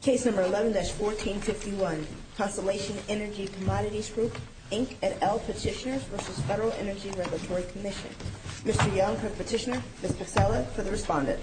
Case number 11-1451, Constellation Energy Commodities Group, Inc. et al. Petitioners v. Federal Energy Regulatory Commission. Mr. Young, Petitioner, Ms. Pacella, for the respondent. Thank you, Mr. Young. Thank you, Mr. Young. Thank you, Mr. Young.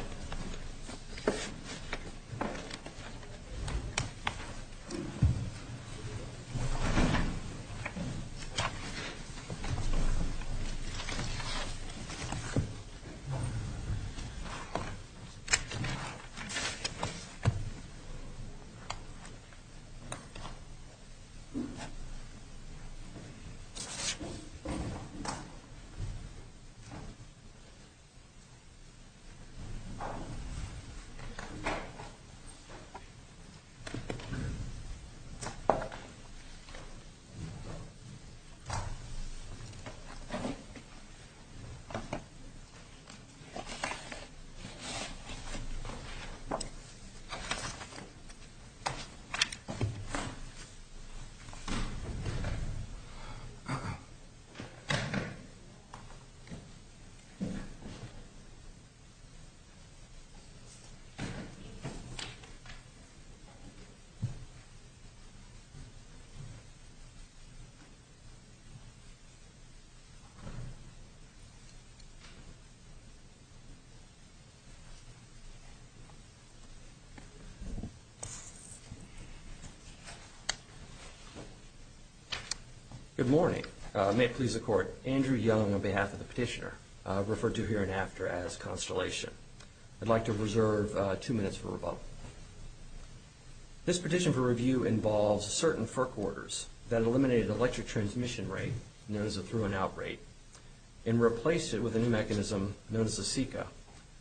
Good morning. May it please the Court, Andrew Young, on behalf of the Petitioner, referred to hereinafter as Constellation. I'd like to reserve two minutes for rebuttal. This petition for review involves certain FERC orders that eliminated electric transmission rate, known as a through-and-out rate, and replaced it with a new mechanism known as the SECA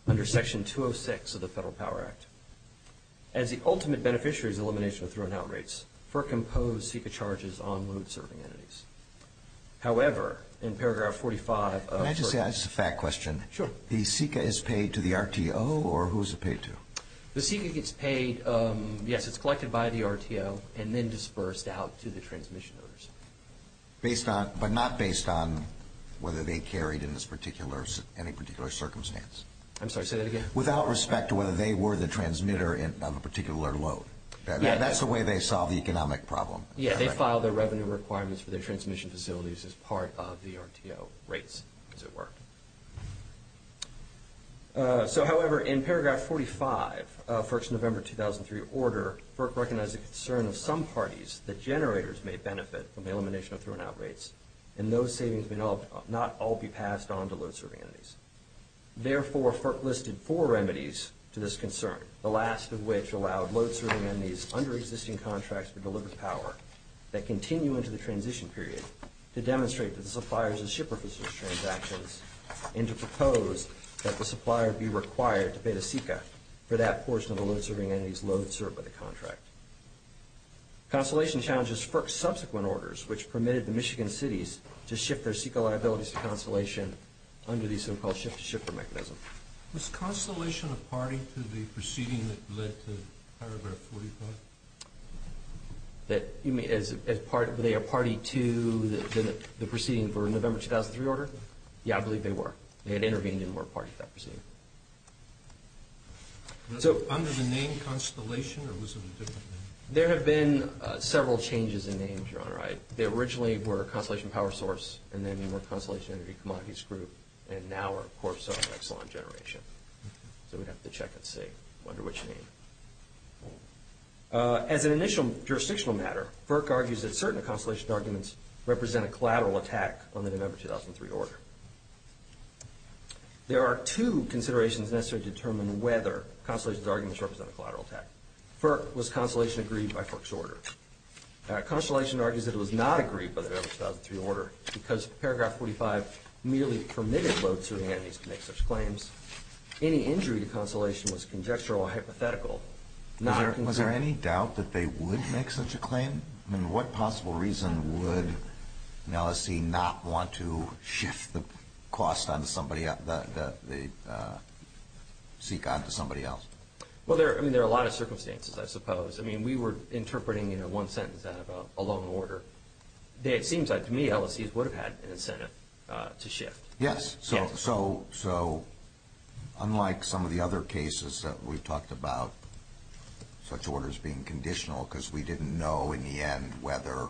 under Section 206 of the Federal Power Act. As the ultimate beneficiary of the elimination of through-and-out rates, FERC imposed SECA charges on load-serving entities. However, in paragraph 45 of FERC... May I just ask a fact question? Sure. The SECA is paid to the RTO, or who is it paid to? The SECA gets paid, yes, it's collected by the RTO and then disbursed out to the transmission owners. But not based on whether they carried in any particular circumstance. I'm sorry, say that again? Without respect to whether they were the transmitter of a particular load. That's the way they solve the economic problem. Yeah, they file their revenue requirements for their transmission facilities as part of the RTO rates, as it were. So, however, in paragraph 45 of FERC's November 2003 order, FERC recognized the concern of some parties that generators may benefit from the elimination of through-and-out rates, and those savings may not all be passed on to load-serving entities. Therefore, FERC listed four remedies to this concern, the last of which allowed load-serving entities under existing contracts to deliver power that continue into the transition period to demonstrate to the suppliers and shipper facilities transactions, and to propose that the supplier be required to pay the SECA for that portion of the load-serving entity's load served by the contract. Constellation challenges FERC's subsequent orders, which permitted the Michigan cities to shift their SECA liabilities to Constellation under the so-called shift-to-shipper mechanism. Was Constellation a party to the proceeding that led to paragraph 45? Were they a party to the proceeding for November 2003 order? Yeah, I believe they were. They had intervened and were a party to that proceeding. So, under the name Constellation, or was it a different name? There have been several changes in names, Your Honor. They originally were Constellation Power Source, and then they were Constellation Energy Commodities Group, and now, of course, are Exelon Generation. So we'd have to check and see under which name. As an initial jurisdictional matter, FERC argues that certain of Constellation's arguments represent a collateral attack on the November 2003 order. There are two considerations necessary to determine whether Constellation's arguments represent a collateral attack. FERC, was Constellation agreed by FERC's order? Constellation argues that it was not agreed by the November 2003 order because paragraph 45 merely permitted load-serving entities to make such claims. Any injury to Constellation was conjectural or hypothetical. Was there any doubt that they would make such a claim? I mean, what possible reason would an LSC not want to shift the cost onto somebody else? Well, I mean, there are a lot of circumstances, I suppose. I mean, we were interpreting, you know, one sentence out of a loan order. It seems like, to me, LSCs would have had an incentive to shift. Yes. So unlike some of the other cases that we've talked about, such orders being conditional because we didn't know in the end whether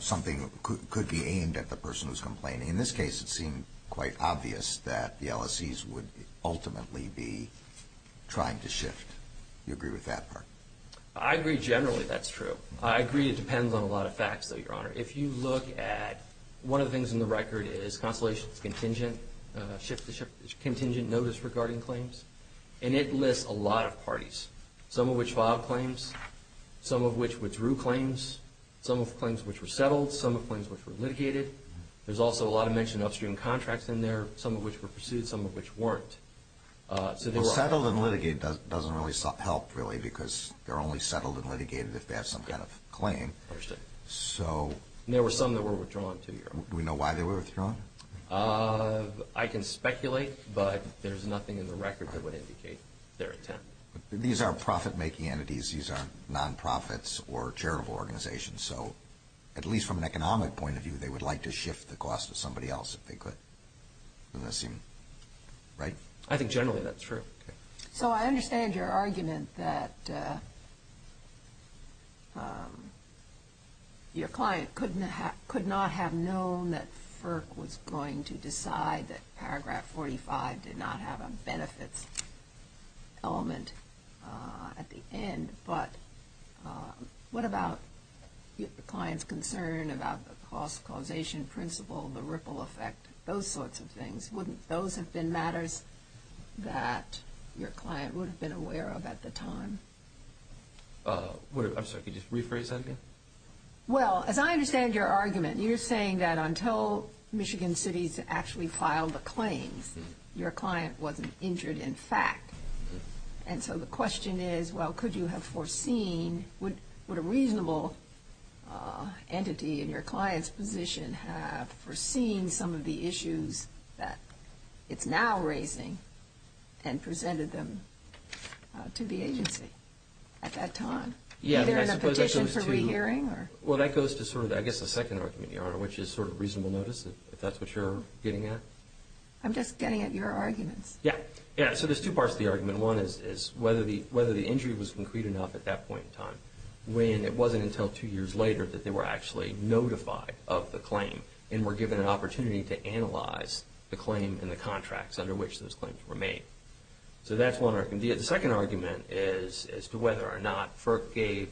something could be aimed at the person who's complaining. In this case, it seemed quite obvious that the LSCs would ultimately be trying to shift. Do you agree with that part? I agree generally that's true. I agree it depends on a lot of facts, though, Your Honor. If you look at one of the things in the record is Constellation's contingent notice regarding claims, and it lists a lot of parties, some of which filed claims, some of which withdrew claims, some of which were settled, some of which were litigated. There's also a lot of mentioned upstream contracts in there, some of which were pursued, some of which weren't. Settled and litigated doesn't really help, really, because they're only settled and litigated if they have some kind of claim. I understand. There were some that were withdrawn, too, Your Honor. Do we know why they were withdrawn? I can speculate, but there's nothing in the record that would indicate their intent. These are profit-making entities. These aren't nonprofits or charitable organizations. So at least from an economic point of view, they would like to shift the cost to somebody else if they could. Doesn't that seem right? I think generally that's true. So I understand your argument that your client could not have known that FERC was going to decide that Paragraph 45 did not have a benefits element at the end, but what about the client's concern about the cost causation principle, the ripple effect, those sorts of things? Wouldn't those have been matters that your client would have been aware of at the time? I'm sorry. Could you just rephrase that again? Well, as I understand your argument, you're saying that until Michigan City actually filed the claims, your client wasn't injured in fact. And so the question is, well, could you have foreseen, would a reasonable entity in your client's position have foreseen some of the issues that it's now raising and presented them to the agency at that time, either in a petition for rehearing? Well, that goes to sort of, I guess, the second argument, Your Honor, which is sort of reasonable notice, if that's what you're getting at. I'm just getting at your arguments. Yeah. So there's two parts to the argument. One is whether the injury was concrete enough at that point in time when it wasn't until two years later that they were actually notified of the claim and were given an opportunity to analyze the claim and the contracts under which those claims were made. So that's one argument. The second argument is as to whether or not FERC gave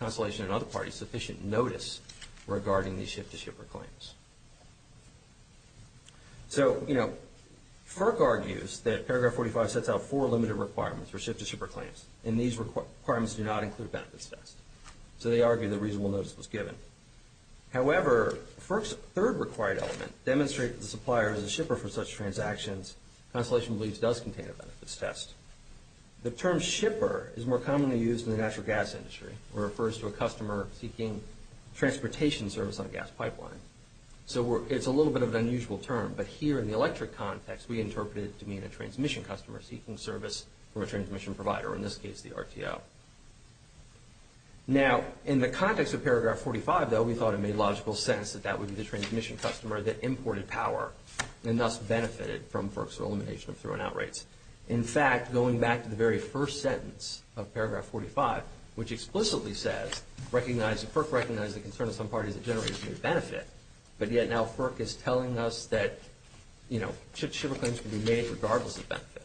Constellation and other parties sufficient notice regarding these ship-to-shipper claims. So, you know, FERC argues that Paragraph 45 sets out four limited requirements for ship-to-shipper claims, and these requirements do not include benefits test. So they argue that reasonable notice was given. However, FERC's third required element demonstrated that the supplier is a shipper for such transactions. Constellation believes it does contain a benefits test. The term shipper is more commonly used in the natural gas industry where it refers to a customer seeking transportation service on a gas pipeline. So it's a little bit of an unusual term, but here in the electric context, we interpret it to mean a transmission customer seeking service from a transmission provider, or in this case the RTO. Now, in the context of Paragraph 45, though, we thought it made logical sense that that would be the transmission customer that imported power and thus benefited from FERC's elimination of throw-in-out rates. In fact, going back to the very first sentence of Paragraph 45, which explicitly says FERC recognizes the concern of some parties that generates new benefit, but yet now FERC is telling us that ship-to-shipper claims can be made regardless of benefit.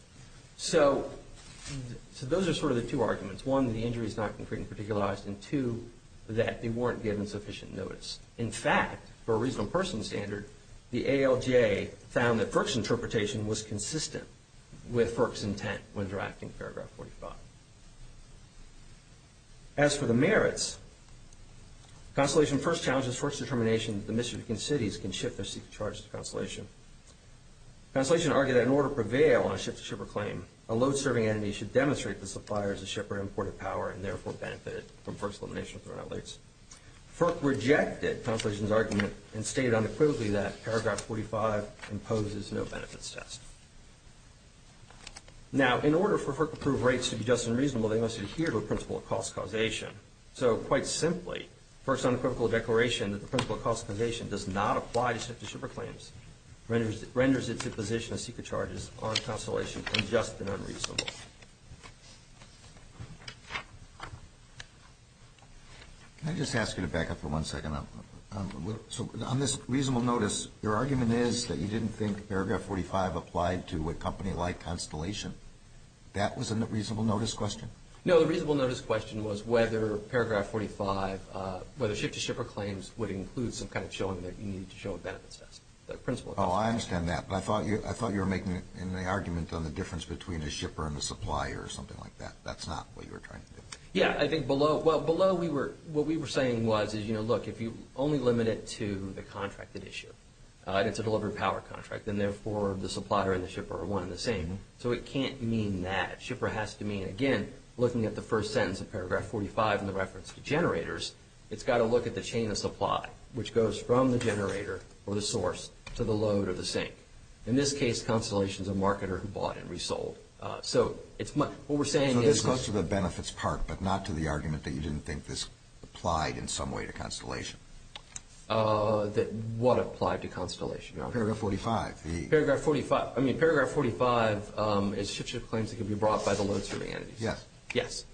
So those are sort of the two arguments. One, the injury is not concrete and particularized, and two, that they weren't given sufficient notice. In fact, for a reasonable person standard, the ALJ found that FERC's interpretation was consistent with FERC's intent when drafting Paragraph 45. As for the merits, Consolation first challenges FERC's determination that the Michigan cities can ship their secret charges to Consolation. Consolation argued that in order to prevail on a ship-to-shipper claim, a load-serving entity should demonstrate the supplier as a shipper imported power and therefore benefited from FERC's elimination of throw-in-out rates. FERC rejected Consolation's argument and stated unequivocally that Paragraph 45 imposes no benefits test. Now, in order for FERC-approved rates to be just and reasonable, they must adhere to a principle of cost causation. So, quite simply, FERC's unequivocal declaration that the principle of cost causation does not apply to ship-to-shipper claims renders its imposition of secret charges on Consolation unjust and unreasonable. Can I just ask you to back up for one second? So, on this reasonable notice, your argument is that you didn't think Paragraph 45 applied to a company like Consolation. That was a reasonable notice question? No, the reasonable notice question was whether Paragraph 45, whether ship-to-shipper claims would include some kind of showing that you need to show a benefits test, the principle of cost causation. Oh, I understand that, but I thought you were making an argument on the difference between a shipper and a supplier or something like that. That's not what you were trying to do. Yeah, I think below, well, below what we were saying was, you know, look, if you only limit it to the contracted issue, and it's a delivery power contract, then therefore the supplier and the shipper are one and the same. So it can't mean that. Shipper has to mean, again, looking at the first sentence of Paragraph 45 in the reference to generators, it's got to look at the chain of supply, which goes from the generator or the source to the load or the sink. In this case, Consolation is a marketer who bought and resold. So this goes to the benefits part, but not to the argument that you didn't think this applied in some way to Consolation. What applied to Consolation? Paragraph 45. Paragraph 45. I mean, Paragraph 45 is ship-to-shipper claims that can be brought by the load-serving entities. Yes. Yes.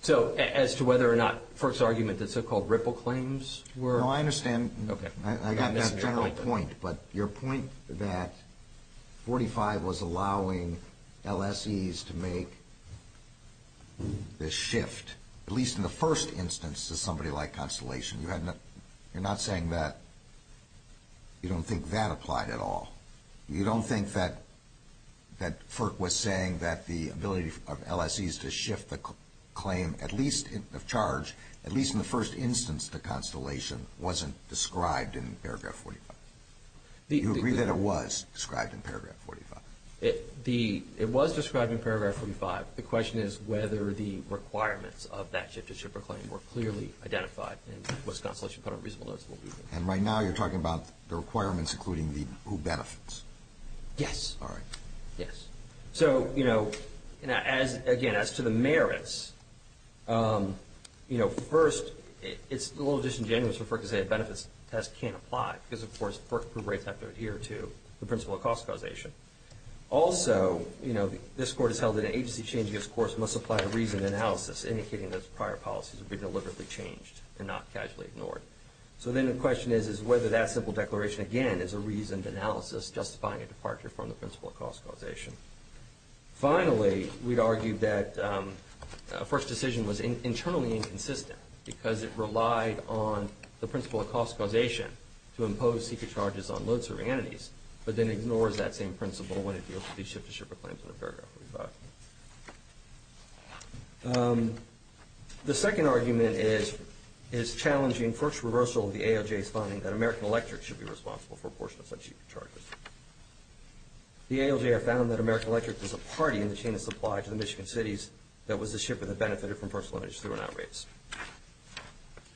So as to whether or not Firk's argument that so-called ripple claims were… No, I understand. Okay. I got that general point, but your point that 45 was allowing LSEs to make this shift, at least in the first instance, to somebody like Consolation, you're not saying that you don't think that applied at all. You don't think that Firk was saying that the ability of LSEs to shift the claim, at least of charge, at least in the first instance to Consolation, wasn't described in Paragraph 45? You agree that it was described in Paragraph 45? It was described in Paragraph 45. The question is whether the requirements of that ship-to-shipper claim were clearly identified in what Consolation put on reasonable notes. And right now you're talking about the requirements including who benefits. Yes. All right. Yes. So, you know, again, as to the merits, you know, first, it's a little disingenuous for Firk to say a benefits test can't apply because, of course, Firk's proof rates have to adhere to the principle of cost causation. Also, you know, this Court has held that an agency changing its course must apply a reasoned analysis indicating that its prior policies would be deliberately changed and not casually ignored. So then the question is whether that simple declaration, again, is a reasoned analysis justifying a departure from the principle of cost causation. Finally, we'd argue that Firk's decision was internally inconsistent because it relied on the principle of cost causation to impose secret charges on loads or entities but then ignores that same principle when it deals with these ship-to-shipper claims in Paragraph 45. The second argument is challenging Firk's reversal of the AOJ's finding that American Electric should be responsible for a portion of such secret charges. The AOJ have found that American Electric was a party in the chain of supply to the Michigan cities that was the shipper that benefited from personal energy through and out rates.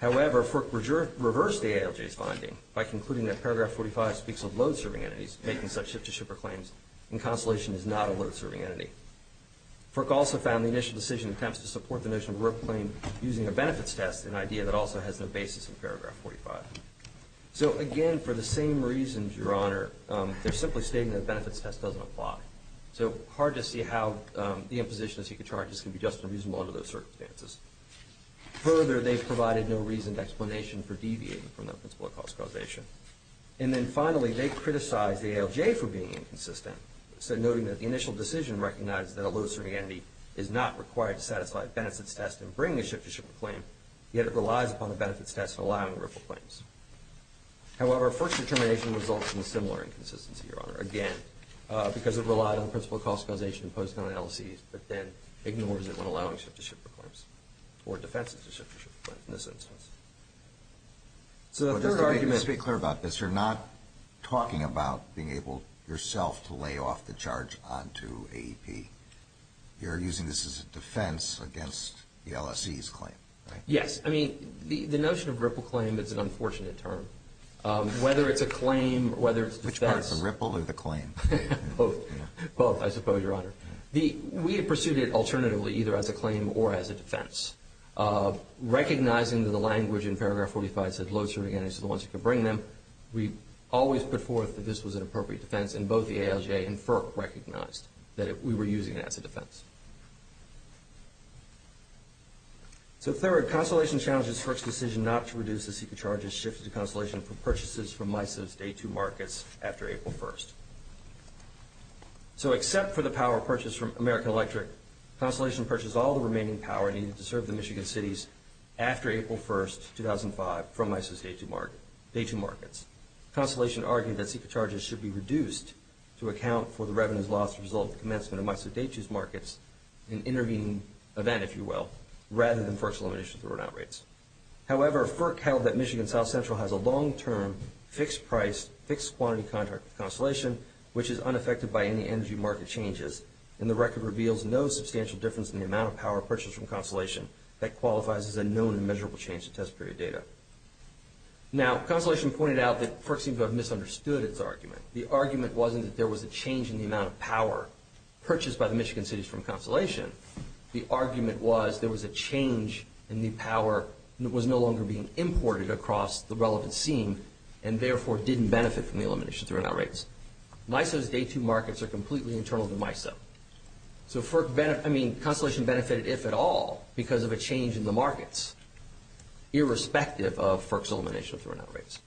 However, Firk reversed the AOJ's finding by concluding that Paragraph 45 speaks of load-serving entities making such ship-to-shipper claims and Constellation is not a load-serving entity. Firk also found the initial decision attempts to support the notion of a rope claim using a benefits test, an idea that also has no basis in Paragraph 45. So again, for the same reasons, Your Honor, they're simply stating that the benefits test doesn't apply. So hard to see how the imposition of secret charges can be just and reasonable under those circumstances. Further, they've provided no reasoned explanation for deviating from the principle of cost causation. And then finally, they criticize the AOJ for being inconsistent, noting that the initial decision recognizes that a load-serving entity is not required to satisfy a benefits test and bring a ship-to-shipper claim, yet it relies upon the benefits test in allowing rope claims. However, Firk's determination results in a similar inconsistency, Your Honor, again, because it relied on the principle of cost causation imposed on LLCs, but then ignores it when allowing ship-to-shipper claims or defenses a ship-to-shipper claim in this instance. So the third argument- Let's be clear about this. You're not talking about being able yourself to lay off the charge onto AEP. You're using this as a defense against the LLC's claim, right? Yes. I mean, the notion of ripple claim is an unfortunate term. Whether it's a claim or whether it's a defense- Which part, the ripple or the claim? Both. Both, I suppose, Your Honor. We pursued it alternatively, either as a claim or as a defense, recognizing that the language in paragraph 45 said load-serving entities are the ones who can bring them. We always put forth that this was an appropriate defense, and both the ALJ and FERC recognized that we were using it as a defense. So third, Constellation challenges FERC's decision not to reduce the secret charges shifted to Constellation for purchases from MISA's Day 2 markets after April 1st. So except for the power purchased from American Electric, Constellation purchased all the remaining power needed to serve the Michigan cities after April 1st, 2005, from MISA's Day 2 markets. Constellation argued that secret charges should be reduced to account for the revenues lost as a result of the commencement of MISA Day 2's markets, an intervening event, if you will, rather than FERC's elimination of throw-out rates. However, FERC held that Michigan South Central has a long-term fixed-price, fixed-quantity contract with Constellation, which is unaffected by any energy market changes, and the record reveals no substantial difference in the amount of power purchased from Constellation that qualifies as a known and measurable change to test period data. Now, Constellation pointed out that FERC seemed to have misunderstood its argument. The argument wasn't that there was a change in the amount of power purchased by the Michigan cities from Constellation. The argument was there was a change in the power that was no longer being imported across the relevant scene and therefore didn't benefit from the elimination of throw-out rates. MISA's Day 2 markets are completely internal to MISA. So, I mean, Constellation benefited, if at all, because of a change in the markets. Irrespective of FERC's elimination of throw-out rates.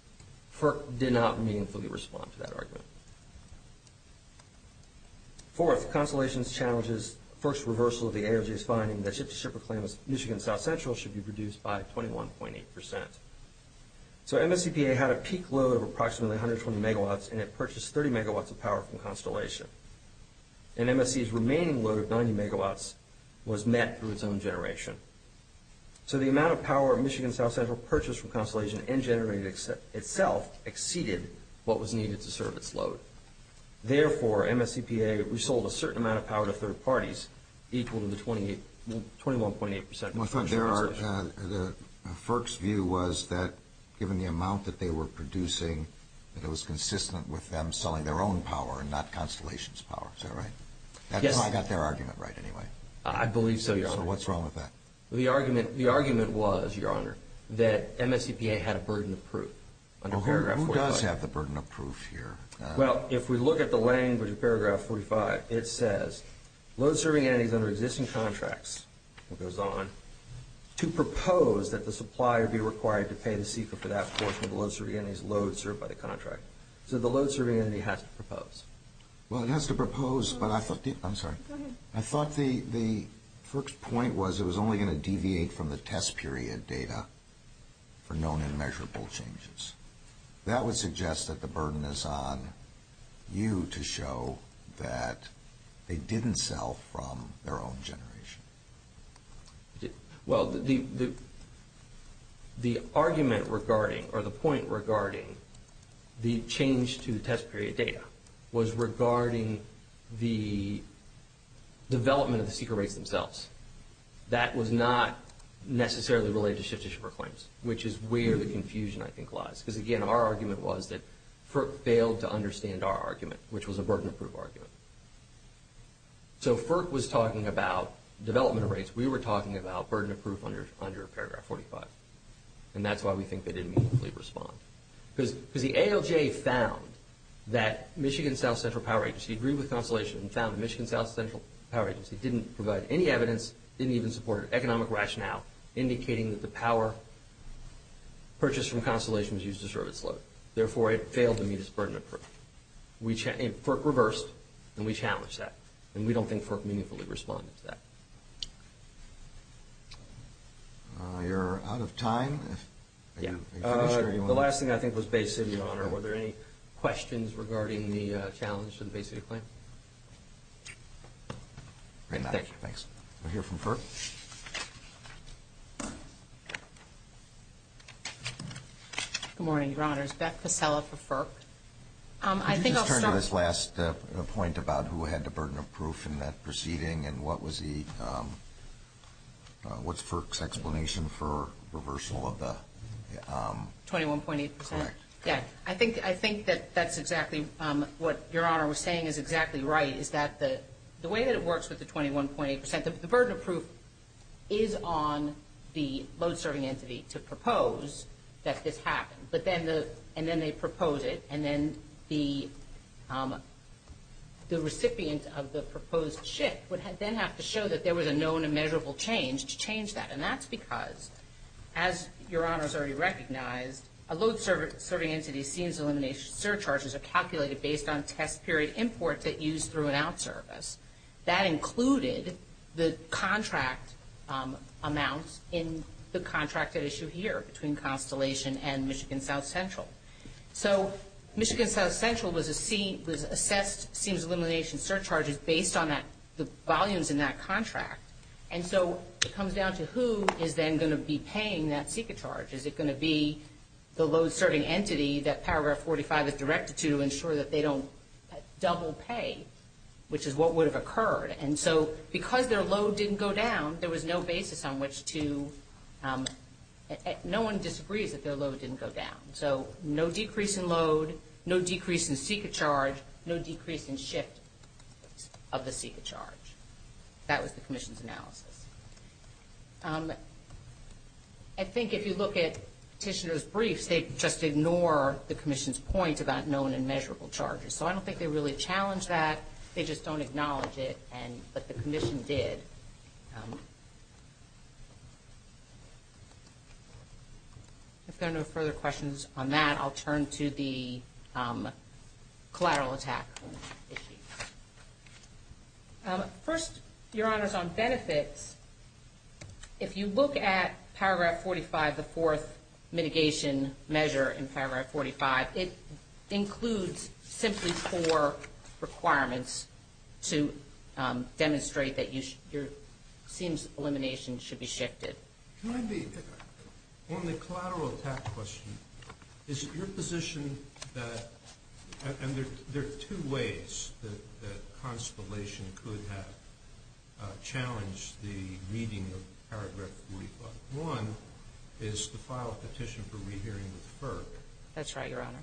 FERC did not meaningfully respond to that argument. Fourth, Constellation's challenge is FERC's reversal of the AOJ's finding that ship-to-shipper claims Michigan South Central should be reduced by 21.8%. So, MSCPA had a peak load of approximately 120 megawatts, and it purchased 30 megawatts of power from Constellation. And MSC's remaining load of 90 megawatts was met through its own generation. So the amount of power Michigan South Central purchased from Constellation and generated itself exceeded what was needed to serve its load. Therefore, MSCPA resold a certain amount of power to third parties equal to 21.8%. Well, FERC's view was that, given the amount that they were producing, that it was consistent with them selling their own power and not Constellation's power. Is that right? Yes. I believe so, Your Honor. So what's wrong with that? The argument was, Your Honor, that MSCPA had a burden of proof under Paragraph 45. Who does have the burden of proof here? Well, if we look at the language of Paragraph 45, it says, load-serving entities under existing contracts, it goes on, to propose that the supplier be required to pay the CEQA for that portion of the load-serving entities load-served by the contract. So the load-serving entity has to propose. I'm sorry. Go ahead. I thought the FERC's point was it was only going to deviate from the test period data for known and measurable changes. That would suggest that the burden is on you to show that they didn't sell from their own generation. Well, the argument regarding or the point regarding the change to the test period data was regarding the development of the CEQA rates themselves. That was not necessarily related to shift-to-shipper claims, which is where the confusion, I think, lies. Because, again, our argument was that FERC failed to understand our argument, which was a burden of proof argument. So FERC was talking about development rates. We were talking about burden of proof under Paragraph 45. And that's why we think they didn't immediately respond. Because the ALJ found that Michigan South Central Power Agency agreed with Constellation and found that Michigan South Central Power Agency didn't provide any evidence, didn't even support an economic rationale, indicating that the power purchased from Constellation was used to serve its load. Therefore, it failed to meet its burden of proof. FERC reversed, and we challenged that. And we don't think FERC meaningfully responded to that. You're out of time. The last thing, I think, was Bay City, Your Honor. Were there any questions regarding the challenge for the Bay City claim? Thanks. We'll hear from FERC. Good morning, Your Honors. Beth Pasella for FERC. Could you just turn to this last point about who had the burden of proof in that proceeding and what was the, what's FERC's explanation for reversal of the? 21.8%. Correct. Yeah. I think that that's exactly what Your Honor was saying is exactly right, is that the way that it works with the 21.8%, the burden of proof is on the load-serving entity to propose that this happened. But then the, and then they propose it. And then the recipient of the proposed shift would then have to show that there was a known and measurable change to change that. And that's because, as Your Honor has already recognized, a load-serving entity seems to eliminate surcharges are calculated based on test period imports that use through and out service. That included the contract amounts in the contracted issue here between Constellation and Michigan South Central. So Michigan South Central was assessed seems elimination surcharges based on that, the volumes in that contract. And so it comes down to who is then going to be paying that secret charge. Is it going to be the load-serving entity that Paragraph 45 is directed to ensure that they don't double pay, which is what would have occurred. And so because their load didn't go down, there was no basis on which to, no one disagrees that their load didn't go down. So no decrease in load, no decrease in secret charge, no decrease in shift of the secret charge. That was the commission's analysis. I think if you look at petitioner's briefs, they just ignore the commission's point about known and measurable charges. So I don't think they really challenge that. They just don't acknowledge it, but the commission did. Thank you. If there are no further questions on that, I'll turn to the collateral attack issue. First, Your Honors, on benefits, if you look at Paragraph 45, the fourth mitigation measure in Paragraph 45, it includes simply four requirements to demonstrate that your seems elimination should be shifted. Can I be, on the collateral attack question, is it your position that, and there are two ways that Constellation could have challenged the meeting of Paragraph 45. One is to file a petition for rehearing with FERC. That's right, Your Honor.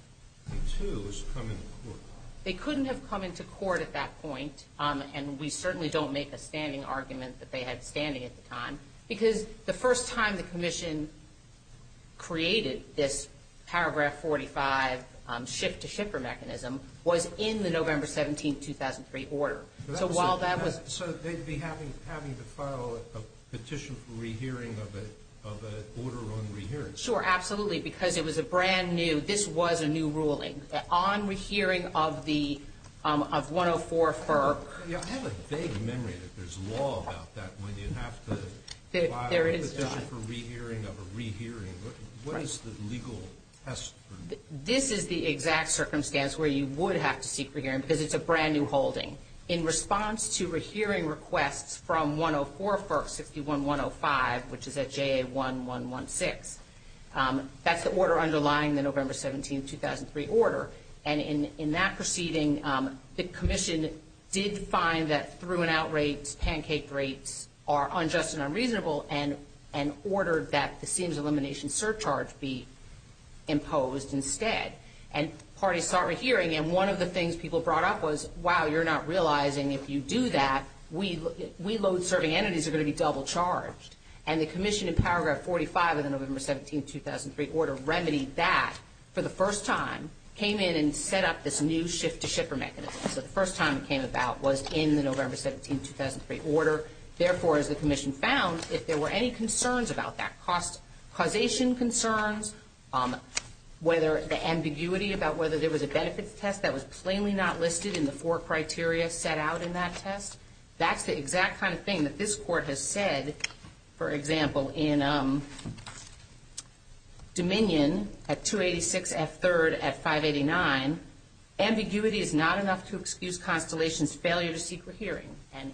And two is to come into court. They couldn't have come into court at that point, and we certainly don't make a standing argument that they had standing at the time, because the first time the commission created this Paragraph 45 shift to shipper mechanism was in the November 17, 2003 order. So while that was- So they'd be having to file a petition for rehearing of an order on rehearing. Sure, absolutely, because it was a brand new, this was a new ruling. On rehearing of the, of 104 FERC- I have a vague memory that there's law about that when you have to file a petition for rehearing of a rehearing. What is the legal precedent? This is the exact circumstance where you would have to seek rehearing, because it's a brand new holding. in response to rehearing requests from 104 FERC 61105, which is at JA1116. That's the order underlying the November 17, 2003 order. And in that proceeding, the commission did find that through-and-out rates, pancake rates, are unjust and unreasonable, and ordered that the seams elimination surcharge be imposed instead. And parties started rehearing, and one of the things people brought up was, wow, you're not realizing if you do that, we load-serving entities are going to be double-charged. And the commission in Paragraph 45 of the November 17, 2003 order remedied that for the first time, came in and set up this new shift to shipper mechanism. So the first time it came about was in the November 17, 2003 order. Therefore, as the commission found, if there were any concerns about that, causation concerns, whether the ambiguity about whether there was a benefits test that was plainly not listed in the four criteria set out in that test, that's the exact kind of thing that this Court has said. For example, in Dominion at 286F3 at 589, ambiguity is not enough to excuse Constellation's failure to seek rehearing. And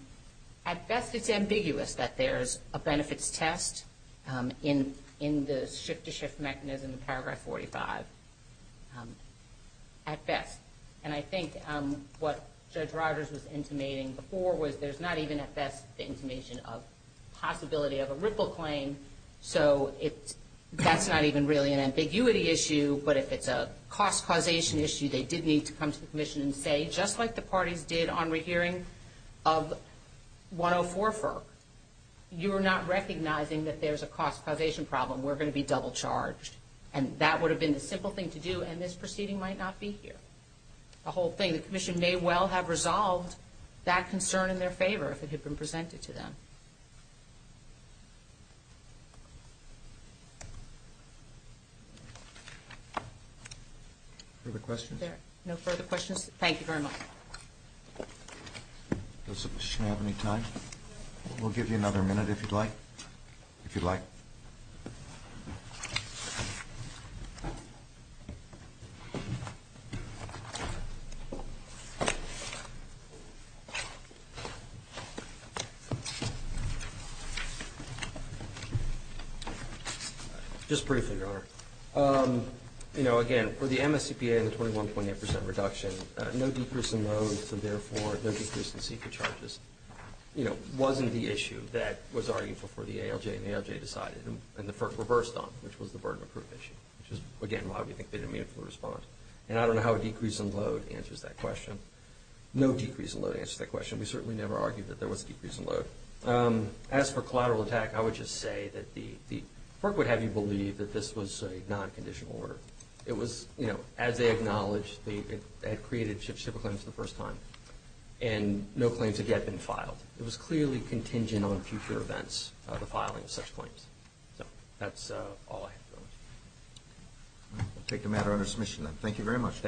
at best, it's ambiguous that there's a benefits test in the shift-to-shift mechanism in Paragraph 45. At best. And I think what Judge Rogers was intimating before was there's not even at best the intimation of possibility of a ripple claim. So that's not even really an ambiguity issue, but if it's a cost causation issue, they did need to come to the commission and say, just like the parties did on rehearing of 104FER, you are not recognizing that there's a cost causation problem. We're going to be double-charged. And that would have been the simple thing to do, and this proceeding might not be here. The whole thing, the commission may well have resolved that concern in their favor if it had been presented to them. Thank you. Further questions? No further questions. Thank you very much. Does the commission have any time? We'll give you another minute if you'd like. You know, again, for the MSCPA and the 21.8% reduction, no decrease in loads and, therefore, no decrease in secret charges, you know, wasn't the issue that was arguable for the ALJ, and the ALJ decided and the FERC reversed on it, which was the burden of proof issue, which is, again, why we think they didn't meanfully respond. And I don't know how a decrease in load answers that question. No decrease in load answers that question. We certainly never argued that there was a decrease in load. As for collateral attack, I would just say that the FERC would have you believe that this was a non-conditional order. It was, you know, as they acknowledged, they had created shiftable claims for the first time, and no claims had yet been filed. It was clearly contingent on future events, the filing of such claims. So that's all I have. We'll take the matter under submission, then. Thank you very much.